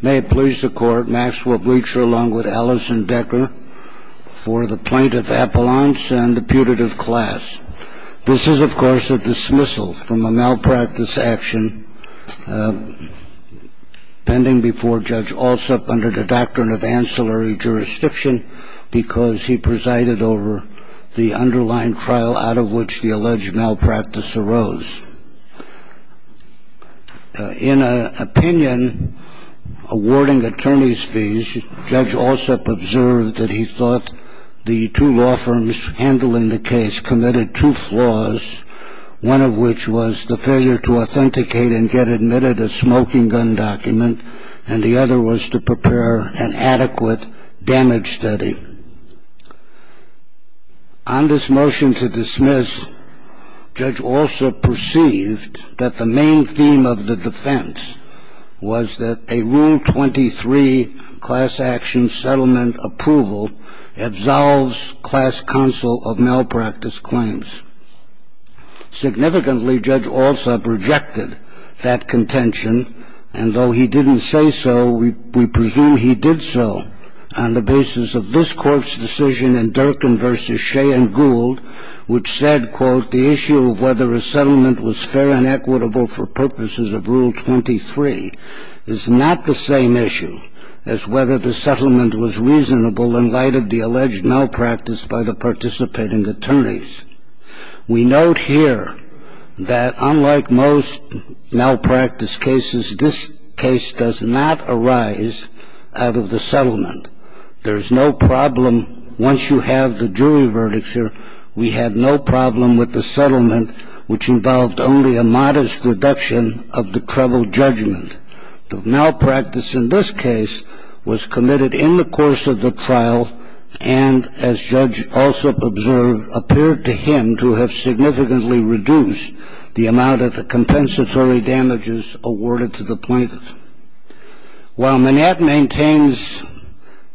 May it please the court, Maxwell Breacher along with Allison Decker for the plaintiff appellants and the putative class. This is of course a dismissal from a malpractice action pending before Judge Alsup under the doctrine of ancillary jurisdiction because he presided over the underlying trial out of which the alleged malpractice arose. In an opinion awarding attorney's fees, Judge Alsup observed that he thought the two law firms handling the case committed two flaws one of which was the failure to authenticate and get admitted a smoking gun document and the other was to prepare an adequate damage study. On this motion to dismiss, Judge Alsup perceived that the main theme of the defense was that a rule 23 class action settlement approval absolves class counsel of malpractice claims. Significantly, Judge Alsup rejected that contention and though he didn't say so, we presume he did so on the basis of this court's decision in Durkin v. Shea and Gould which said, quote, the issue of whether a settlement was fair and equitable for purposes of rule 23 is not the same issue as whether the settlement was reasonable in light of the alleged malpractice by the participating attorneys. We note here that unlike most malpractice cases, this case does not arise out of the settlement. There's no problem once you have the jury verdict here. We had no problem with the settlement which involved only a modest reduction of the treble judgment. The malpractice in this case was committed in the course of the trial and as Judge Alsup observed, appeared to him to have significantly reduced the amount of the compensatory damages awarded to the plaintiff. While Manette maintains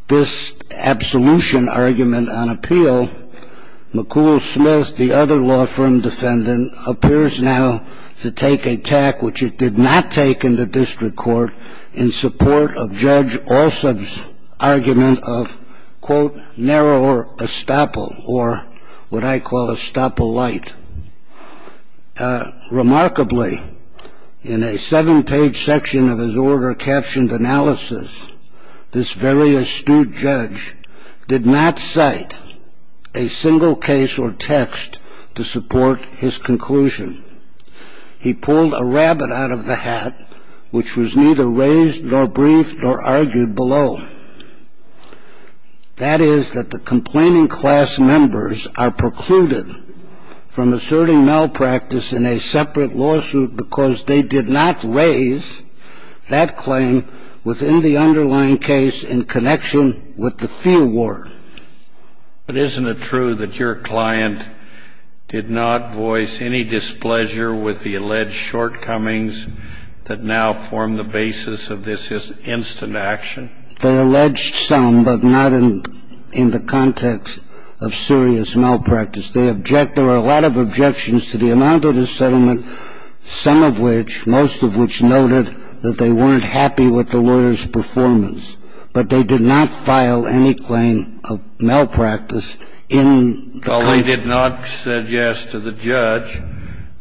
this absolution argument on appeal, McCool Smith, the other law firm defendant, appears now to take a tack which it did not take in the district court in support of Judge Alsup's argument of, quote, narrower estoppel or what I call estoppel light. Remarkably, in a seven page section of his order captioned analysis, this very astute judge did not cite a single case or text to support his conclusion. He pulled a rabbit out of the hat which was neither raised nor briefed or argued below. That is that the complaining class members are precluded from asserting malpractice in a separate lawsuit because they did not raise that claim within the underlying case in connection with the fee award. But isn't it true that your client did not voice any displeasure with the alleged shortcomings that now form the basis of this instant action? They alleged some, but not in the context of serious malpractice. There are a lot of objections to the amount of the settlement, some of which, most of which noted that they weren't happy with the lawyer's performance. But they did not file any claim of malpractice in the case. Well, they did not suggest to the judge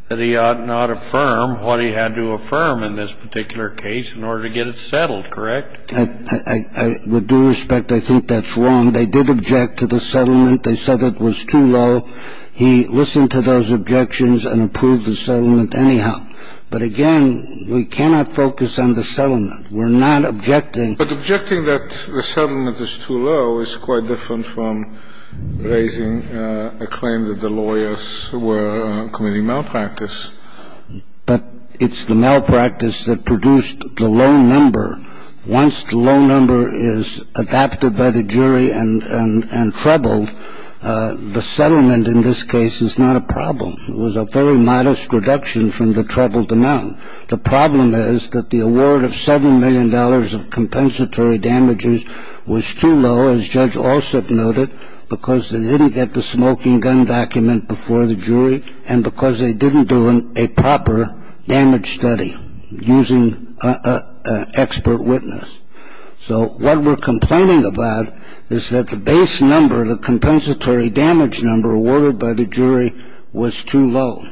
that he ought not affirm what he had to affirm in this particular case in order to get it settled, correct? With due respect, I think that's wrong. They did object to the settlement. They said it was too low. He listened to those objections and approved the settlement anyhow. But again, we cannot focus on the settlement. We're not objecting. But objecting that the settlement is too low is quite different from raising a claim that the lawyers were committing malpractice. But it's the malpractice that produced the low number. Once the low number is adapted by the jury and trebled, the settlement in this case is not a problem. It was a very modest reduction from the trebled amount. The problem is that the award of $7 million of compensatory damages was too low, as Judge Alsup noted, because they didn't get the smoking gun document before the jury and because they didn't do a proper damage study using an expert witness. So what we're complaining about is that the base number, the compensatory damage number awarded by the jury, was too low.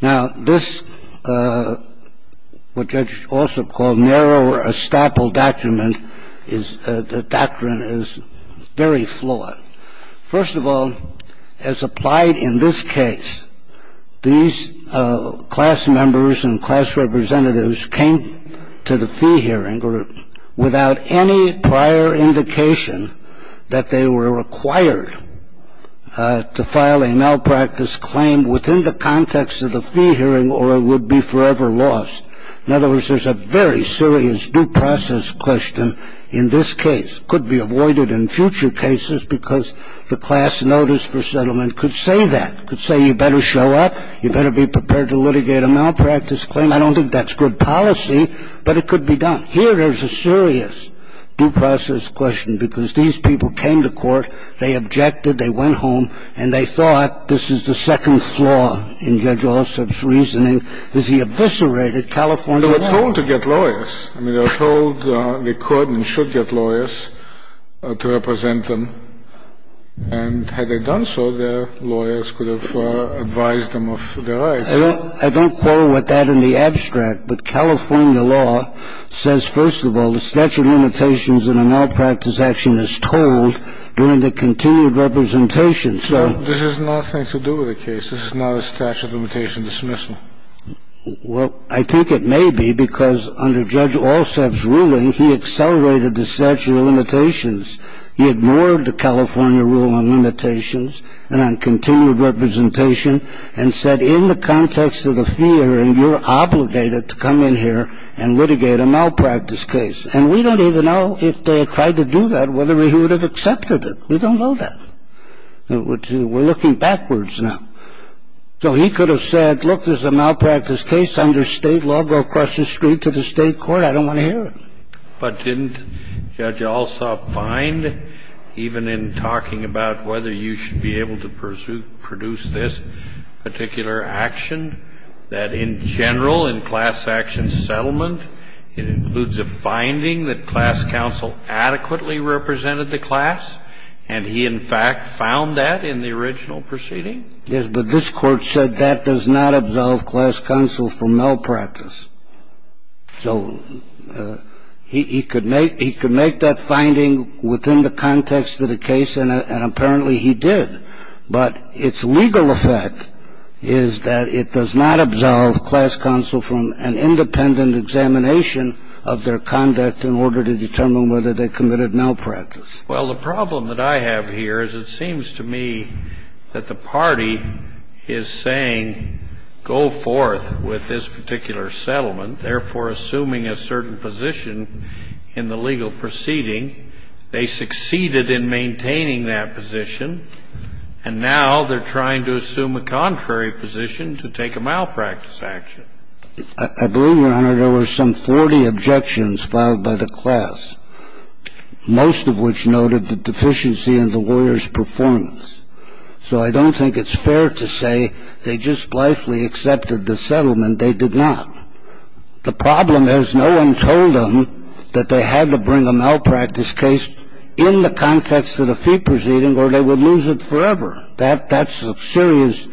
Now, this, what Judge Alsup called narrow or estoppel document, is the doctrine is very flawed. First of all, as applied in this case, these class members and class representatives came to the fee hearing without any prior indication that they were required to file a malpractice claim within the context of the fee hearing or it would be forever lost. In other words, there's a very serious due process question in this case. It could be avoided in future cases because the class notice for settlement could say that. It could say you better show up, you better be prepared to litigate a malpractice claim. I don't think that's good policy, but it could be done. Here there's a serious due process question because these people came to court, they objected, they went home, and they thought this is the second flaw in Judge Alsup's reasoning, because he eviscerated California law. They were told to get lawyers. I mean, they were told they could and should get lawyers to represent them. And had they done so, their lawyers could have advised them of their rights. I don't quote that in the abstract, but California law says, first of all, the statute of limitations in a malpractice action is told during the continued representation. So this has nothing to do with the case. This is not a statute of limitation dismissal. Well, I think it may be because under Judge Alsup's ruling, he accelerated the statute of limitations. He ignored the California rule on limitations and on continued representation and said in the context of the fear, and you're obligated to come in here and litigate a malpractice case. And we don't even know if they had tried to do that, whether he would have accepted it. We don't know that. We're looking backwards now. So he could have said, look, there's a malpractice case under State law. Go across the street to the State court. I don't want to hear it. But didn't Judge Alsup find, even in talking about whether you should be able to pursue or produce this particular action, that in general, in class action settlement, it includes a finding that class counsel adequately represented the class? And he, in fact, found that in the original proceeding? Yes, but this Court said that does not absolve class counsel from malpractice. So he could make that finding within the context of the case, and apparently he did. But its legal effect is that it does not absolve class counsel from an independent examination of their conduct in order to determine whether they committed malpractice. Well, the problem that I have here is it seems to me that the party is saying, go forth with this particular settlement, therefore assuming a certain position in the legal proceeding. They succeeded in maintaining that position, and now they're trying to assume a contrary position to take a malpractice action. I believe, Your Honor, there were some 40 objections filed by the class, most of which noted the deficiency in the lawyer's performance. So I don't think it's fair to say they just blithely accepted the settlement. They did not. The problem is no one told them that they had to bring a malpractice case in the context of the fee proceeding or they would lose it forever. That's a serious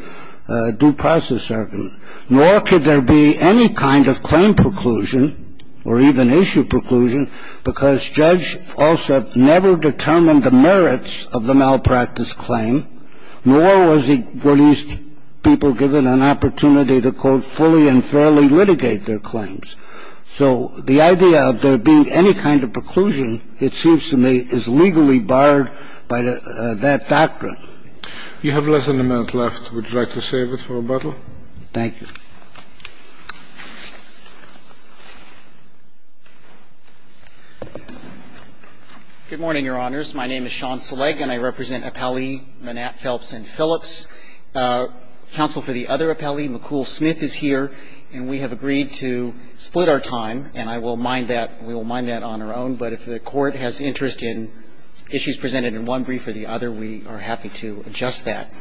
due process argument. Nor could there be any kind of claim preclusion or even issue preclusion because judge also never determined the merits of the malpractice claim, nor were these people given an opportunity to, quote, fully and fairly litigate their claims. So the idea of there being any kind of preclusion, it seems to me, is legally barred by that doctrine. You have less than a minute left. Would you like to save it for rebuttal? Thank you. Good morning, Your Honors. My name is Sean Seleg, and I represent Appelli, Manatt, Phelps, and Phillips. Counsel for the other Appelli, McCool Smith, is here, and we have agreed to split our time, and I will mind that. We will mind that on our own, but if the Court has interest in issues presented in one brief or the other, we are happy to adjust that.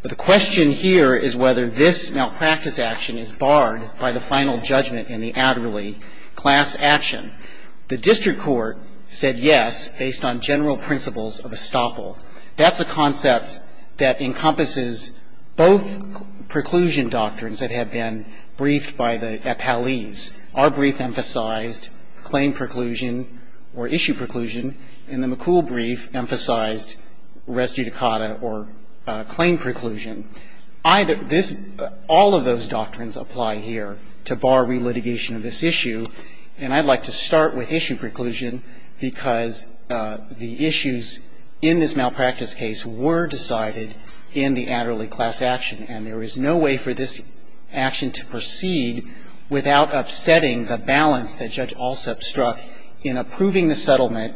But the question here is whether this malpractice action is barred by the final judgment in the Adderley class action. The district court said yes based on general principles of estoppel. That's a concept that encompasses both preclusion doctrines that have been briefed by the Appellees. Our brief emphasized claim preclusion or issue preclusion, and the McCool brief emphasized res judicata or claim preclusion. All of those doctrines apply here to bar relitigation of this issue. And I'd like to start with issue preclusion because the issues in this malpractice case were decided in the Adderley class action, and there is no way for this action to proceed without upsetting the balance that Judge Alsup struck in approving the settlement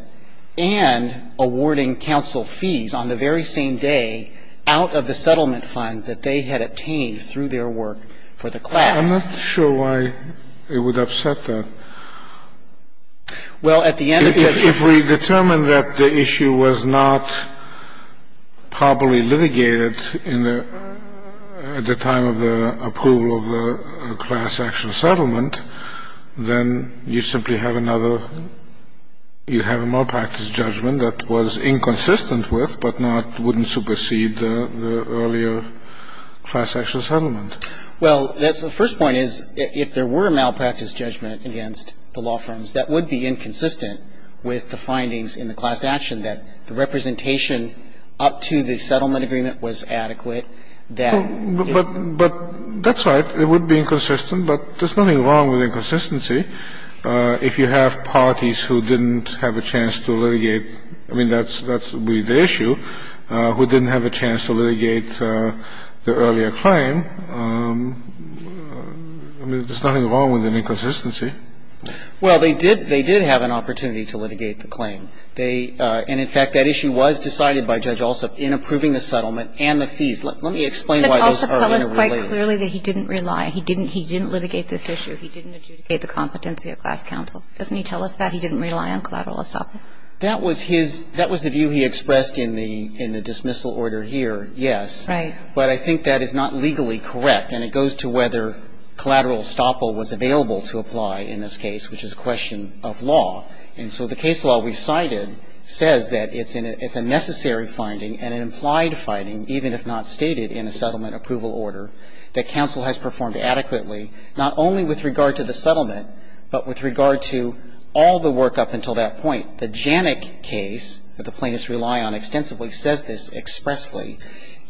and awarding counsel fees on the very same day out of the settlement fund that they had obtained through their work for the class. I'm not sure why it would upset that. Well, at the end of the day If we determine that the issue was not properly litigated in the at the time of the approval of the class action settlement, then you simply have another you have a malpractice judgment that was inconsistent with but not wouldn't supersede the earlier class action settlement. Well, that's the first point is if there were a malpractice judgment against the law firms, that would be inconsistent with the findings in the class action that the representation up to the settlement agreement was adequate. But that's right. It would be inconsistent, but there's nothing wrong with inconsistency. If you have parties who didn't have a chance to litigate, I mean, that would be the issue, who didn't have a chance to litigate the earlier claim, I mean, there's nothing wrong with an inconsistency. Well, they did have an opportunity to litigate the claim. And in fact, that issue was decided by Judge Alsup in approving the settlement and the fees. Let me explain why those are interrelated. But Judge Alsup told us quite clearly that he didn't rely. He didn't litigate this issue. He didn't adjudicate the competency of class counsel. Doesn't he tell us that? He didn't rely on collateral estoppel? That was his that was the view he expressed in the dismissal order here, yes. Right. But I think that is not legally correct, and it goes to whether collateral estoppel was available to apply in this case, which is a question of law. And so the case law we've cited says that it's a necessary finding and an implied finding, even if not stated in a settlement approval order, that counsel has performed adequately, not only with regard to the settlement, but with regard to all the work up until that point. The Janik case that the plaintiffs rely on extensively says this expressly.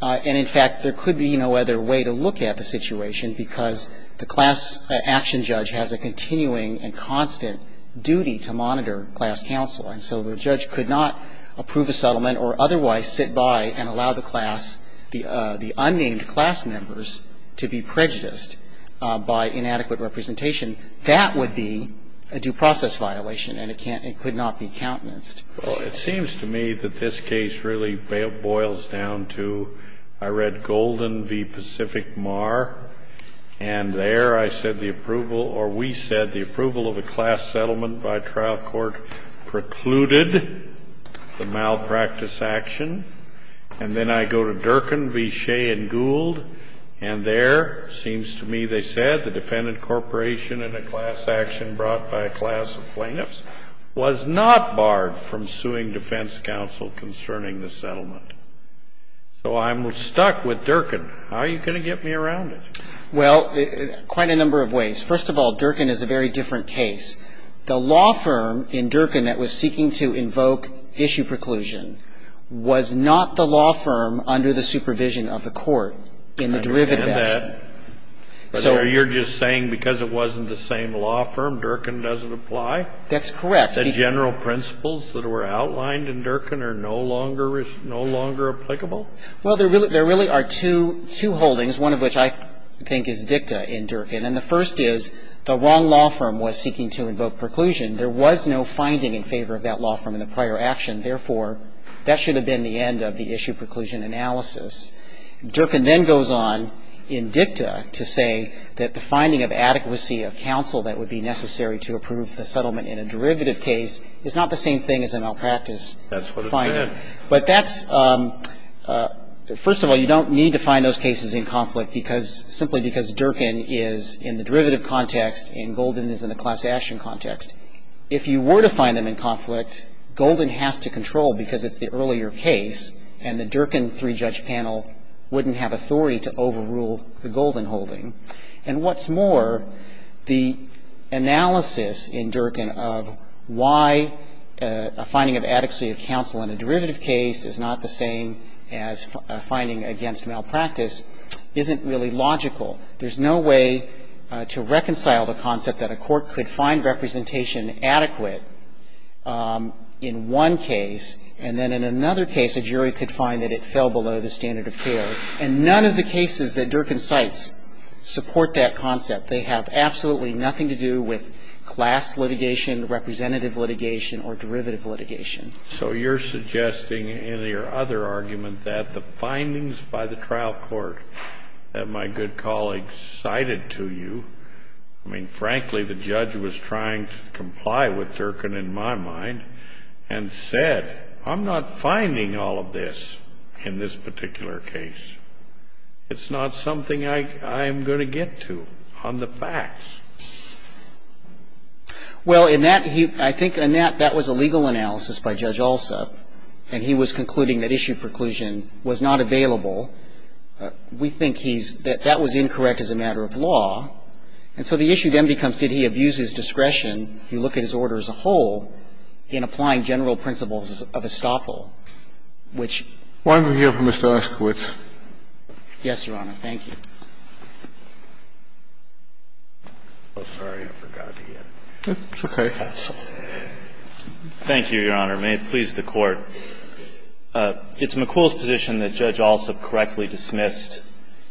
And in fact, there could be no other way to look at the situation because the class action judge has a continuing and constant duty to monitor class counsel. And so the judge could not approve a settlement or otherwise sit by and allow the class, the unnamed class members, to be prejudiced by inadequate representation. That would be a due process violation, and it can't, it could not be countenanced. Well, it seems to me that this case really boils down to, I read Golden v. Pacific Mar, and there I said the approval, or we said the approval of a class settlement by trial court precluded the malpractice action. And then I go to Durkin v. Shea and Gould, and there seems to me they said the defendant corporation and a class action brought by a class of plaintiffs was not barred from suing defense counsel concerning the settlement. So I'm stuck with Durkin. How are you going to get me around it? Well, quite a number of ways. First of all, Durkin is a very different case. The law firm in Durkin that was seeking to invoke issue preclusion was not the law firm under the supervision of the court in the derivative action. So you're just saying because it wasn't the same law firm, Durkin doesn't apply? That's correct. The general principles that were outlined in Durkin are no longer, no longer applicable? Well, there really are two holdings, one of which I think is dicta in Durkin. And the first is the wrong law firm was seeking to invoke preclusion. There was no finding in favor of that law firm in the prior action. Therefore, that should have been the end of the issue preclusion analysis. Durkin then goes on in dicta to say that the finding of adequacy of counsel that would be necessary to approve the settlement in a derivative case is not the same thing as a malpractice finding. That's what it said. But that's, first of all, you don't need to find those cases in conflict because simply because Durkin is in the derivative context and Golden is in the class action context. If you were to find them in conflict, Golden has to control because it's the earlier case and the Durkin three-judge panel wouldn't have authority to overrule the Golden holding. And what's more, the analysis in Durkin of why a finding of adequacy of counsel in a derivative case is not the same as a finding against malpractice isn't really logical. There's no way to reconcile the concept that a court could find representation adequate in one case and then in another case a jury could find that it fell below the standard of care. And none of the cases that Durkin cites support that concept. They have absolutely nothing to do with class litigation, representative litigation or derivative litigation. So you're suggesting in your other argument that the findings by the trial court that my good colleague cited to you, I mean, frankly, the judge was trying to comply with Durkin in my mind and said, I'm not finding all of this in this particular case. It's not something I'm going to get to on the facts. Well, in that he – I think in that that was a legal analysis by Judge Alsop and he was concluding that issue preclusion was not available. We think he's – that that was incorrect as a matter of law. And so the issue then becomes did he abuse his discretion, if you look at his order as a whole, in applying general principles of estoppel, which – Why don't we hear from Mr. Oskowitz. Yes, Your Honor. Thank you. Oh, sorry. I forgot. It's okay. Thank you, Your Honor. May it please the Court. It's McCool's position that Judge Alsop correctly dismissed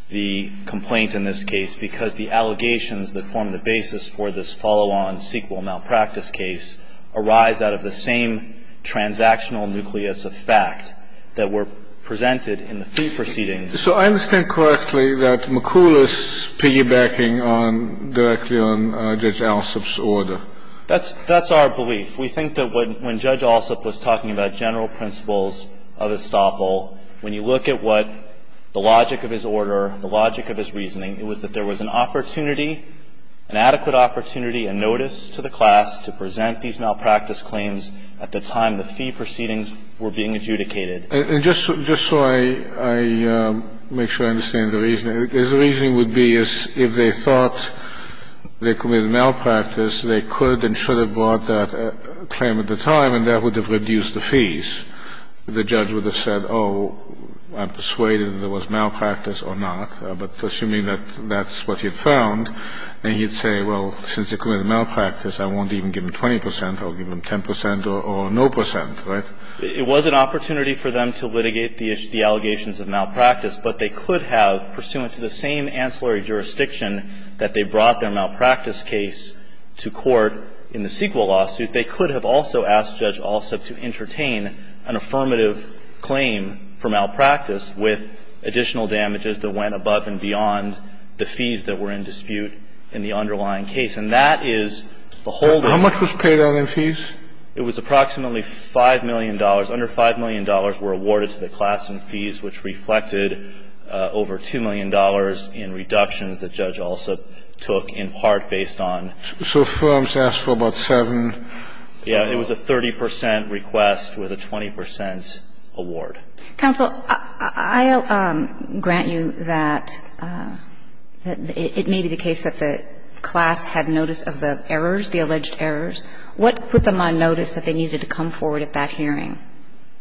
the complaint in this case because the allegations that form the basis for this follow-on sequel malpractice case arise out of the same transactional nucleus of fact that were presented in the three proceedings. So I understand correctly that McCool is piggybacking on – directly on Judge Alsop's order. That's our belief. We think that when Judge Alsop was talking about general principles of estoppel, when you look at what the logic of his order, the logic of his reasoning, it was that there was an opportunity, an adequate opportunity, a notice to the class to present these malpractice claims at the time the three proceedings were being adjudicated. And just so I make sure I understand the reasoning, his reasoning would be if they thought they committed malpractice, they could and should have brought that claim at the time, and that would have reduced the fees. The judge would have said, oh, I'm persuaded there was malpractice or not, but assuming that that's what he had found, and he'd say, well, since they committed malpractice, I won't even give him 20 percent, I'll give him 10 percent or no percent, right? It was an opportunity for them to litigate the allegations of malpractice, but they could have, pursuant to the same ancillary jurisdiction that they brought their malpractice case to court in the CEQA lawsuit, they could have also asked Judge Alsop to entertain an affirmative claim for malpractice with additional damages that went above and beyond the fees that were in dispute in the underlying case. And that is the whole thing. How much was paid on their fees? It was approximately $5 million. Under $5 million were awarded to the class in fees, which reflected over $2 million in reductions that Judge Alsop took in part based on. So firms asked for about 7. Yeah. It was a 30 percent request with a 20 percent award. Counsel, I grant you that it may be the case that the class had notice of the errors, the alleged errors. What put them on notice that they needed to come forward at that hearing?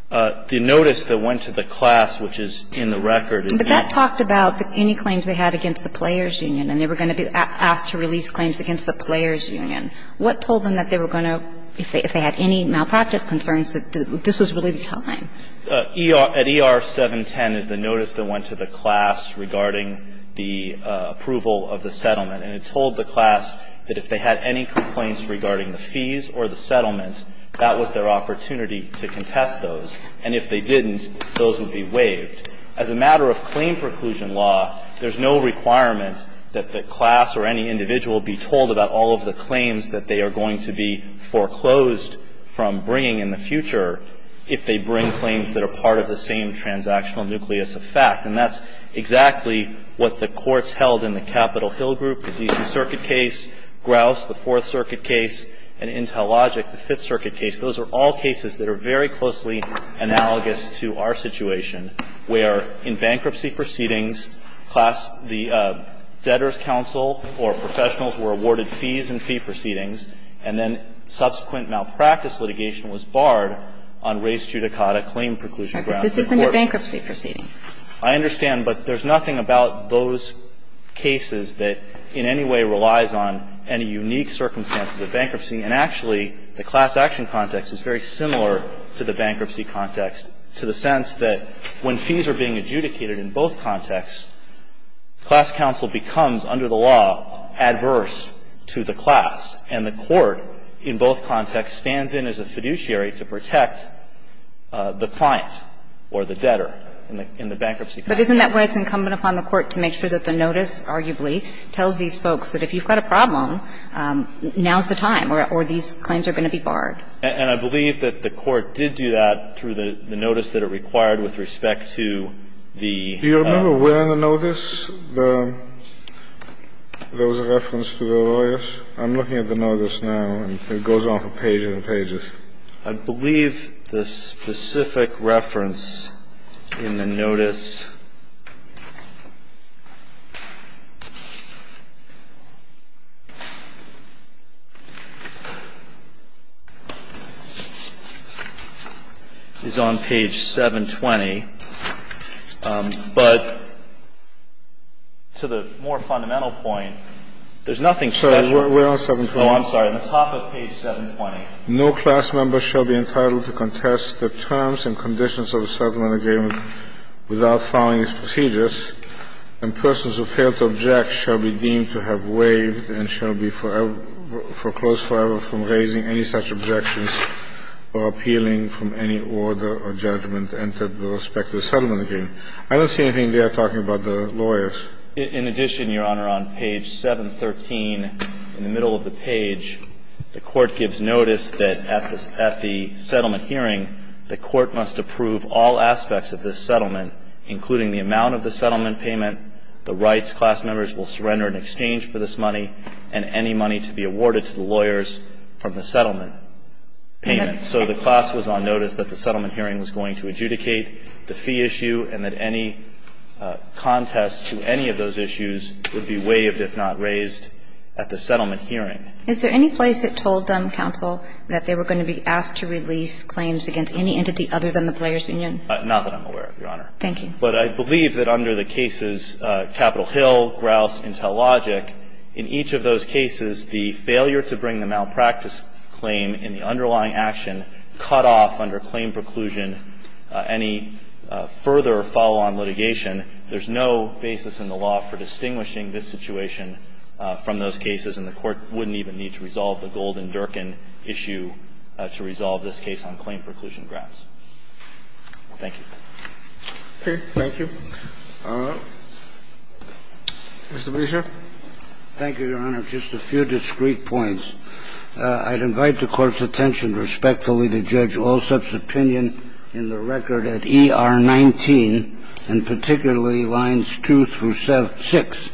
The notice that went to the class, which is in the record. But that talked about any claims they had against the Players Union and they were going to be asked to release claims against the Players Union. What told them that they were going to, if they had any malpractice concerns, that this was really the time? At ER 710 is the notice that went to the class regarding the approval of the settlement. And it told the class that if they had any complaints regarding the fees or the settlement, that was their opportunity to contest those. And if they didn't, those would be waived. As a matter of claim preclusion law, there's no requirement that the class or any individual be told about all of the claims that they are going to be foreclosed from bringing in the future if they bring claims that are part of the same transactional nucleus of fact. And that's exactly what the courts held in the Capitol Hill group, the D.C. Circuit case, Grouse, the Fourth Circuit case, and Intellogic, the Fifth Circuit case. Those are all cases that are very closely analogous to our situation, where in bankruptcy proceedings, class the debtors' counsel or professionals were awarded fees in fee proceedings, and then subsequent malpractice litigation was barred on res judicata claim preclusion grounds. This isn't a bankruptcy proceeding. I understand. But there's nothing about those cases that in any way relies on any unique circumstances of bankruptcy. And actually, the class action context is very similar to the bankruptcy context, to the sense that when fees are being adjudicated in both contexts, class counsel becomes, under the law, adverse to the class, and the court in both contexts stands in as a fiduciary to protect the client or the debtor in the bankruptcy context. But isn't that why it's incumbent upon the Court to make sure that the notice, arguably, tells these folks that if you've got a problem, now's the time, or these claims are going to be barred? And I believe that the Court did do that through the notice that it required with respect to the law. Do you remember where in the notice there was a reference to the lawyers? I'm looking at the notice now, and it goes on for pages and pages. I believe the specific reference in the notice is on page 720. But to the more fundamental point, there's nothing special. I'm sorry. Where on 720? Oh, I'm sorry. On the top of page 720. No class member shall be entitled to contest the terms and conditions of a settlement agreement without following its procedures, and persons who fail to object shall be deemed to have waived and shall be foreclosed forever from raising any such objections or appealing from any order or judgment entered with respect to the settlement agreement. I don't see anything there talking about the lawyers. In addition, Your Honor, on page 713, in the middle of the page, the Court gives notice that at the settlement hearing, the Court must approve all aspects of this settlement, including the amount of the settlement payment, the rights class members will surrender in exchange for this money, and any money to be awarded to the lawyers from the settlement payment. And so the class was on notice that the settlement hearing was going to adjudicate the fee issue and that any contest to any of those issues would be waived if not raised at the settlement hearing. Is there any place that told them, counsel, that they were going to be asked to release claims against any entity other than the players union? Not that I'm aware of, Your Honor. Thank you. But I believe that under the cases Capitol Hill, Grouse, Intellogic, in each of those cases, the failure to bring the malpractice claim in the underlying action cut off under claim preclusion any further follow-on litigation. There's no basis in the law for distinguishing this situation from those cases, and the Court wouldn't even need to resolve the Gold and Durkin issue to resolve this case on claim preclusion grants. Thank you. Okay. Thank you. Mr. Brescia. Thank you, Your Honor. Just a few discreet points. I'd invite the Court's attention respectfully to judge Allsup's opinion in the record at ER19, and particularly lines 2 through 6.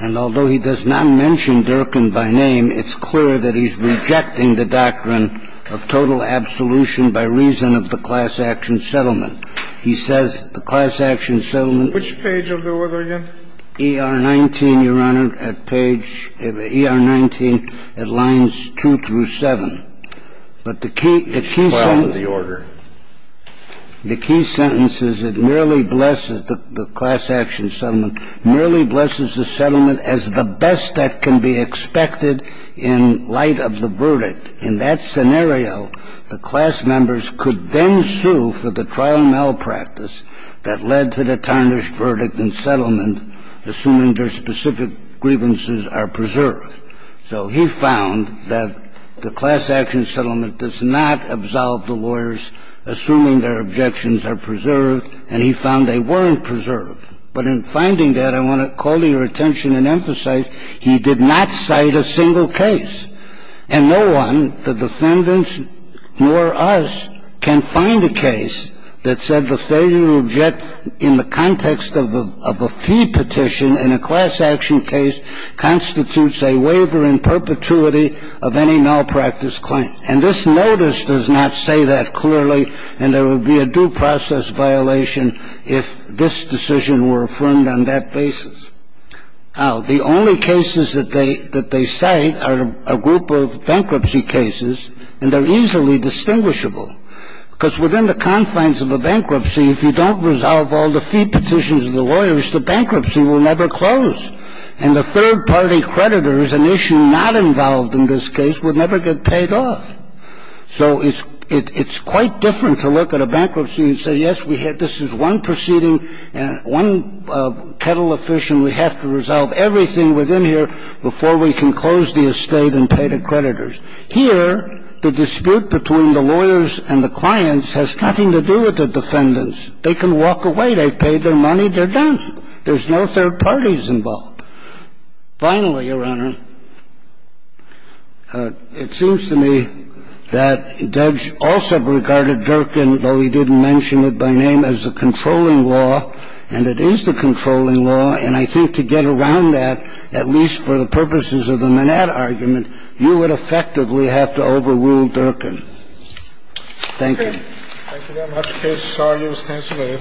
And although he does not mention Durkin by name, it's clear that he's rejecting the doctrine of total absolution by reason of the class action settlement. He says the class action settlement. Which page of the order again? ER19, Your Honor, at page ER19 at lines 2 through 7. But the key sentence. File of the order. The key sentence is it merely blesses the class action settlement, merely blesses the settlement as the best that can be expected in light of the verdict. In that scenario, the class members could then sue for the trial malpractice that led to the tarnished verdict and settlement, assuming their specific grievances are preserved. So he found that the class action settlement does not absolve the lawyers, assuming their objections are preserved, and he found they weren't preserved. But in finding that, I want to call to your attention and emphasize, he did not cite a single case. And no one, the defendants nor us, can find a case that said the failure to object in the context of a fee petition in a class action case constitutes a waiver in perpetuity of any malpractice claim. And this notice does not say that clearly, and there would be a due process violation if this decision were affirmed on that basis. The only cases that they cite are a group of bankruptcy cases, and they're easily distinguishable. Because within the confines of a bankruptcy, if you don't resolve all the fee petitions of the lawyers, the bankruptcy will never close. And the third-party creditors, an issue not involved in this case, would never get paid off. So it's quite different to look at a bankruptcy and say, yes, this is one proceeding, one kettle of fish, and we have to resolve everything within here before we can close the estate and pay the creditors. Here, the dispute between the lawyers and the clients has nothing to do with the defendants. They can walk away. They've paid their money. They're done. There's no third parties involved. Finally, Your Honor, it seems to me that Judge also regarded Durkin, though he didn't mention it by name, as the controlling law, and it is the controlling law. And I think to get around that, at least for the purposes of the Manette argument, you would effectively have to overrule Durkin. Thank you. Thank you very much, case. This argument stands today.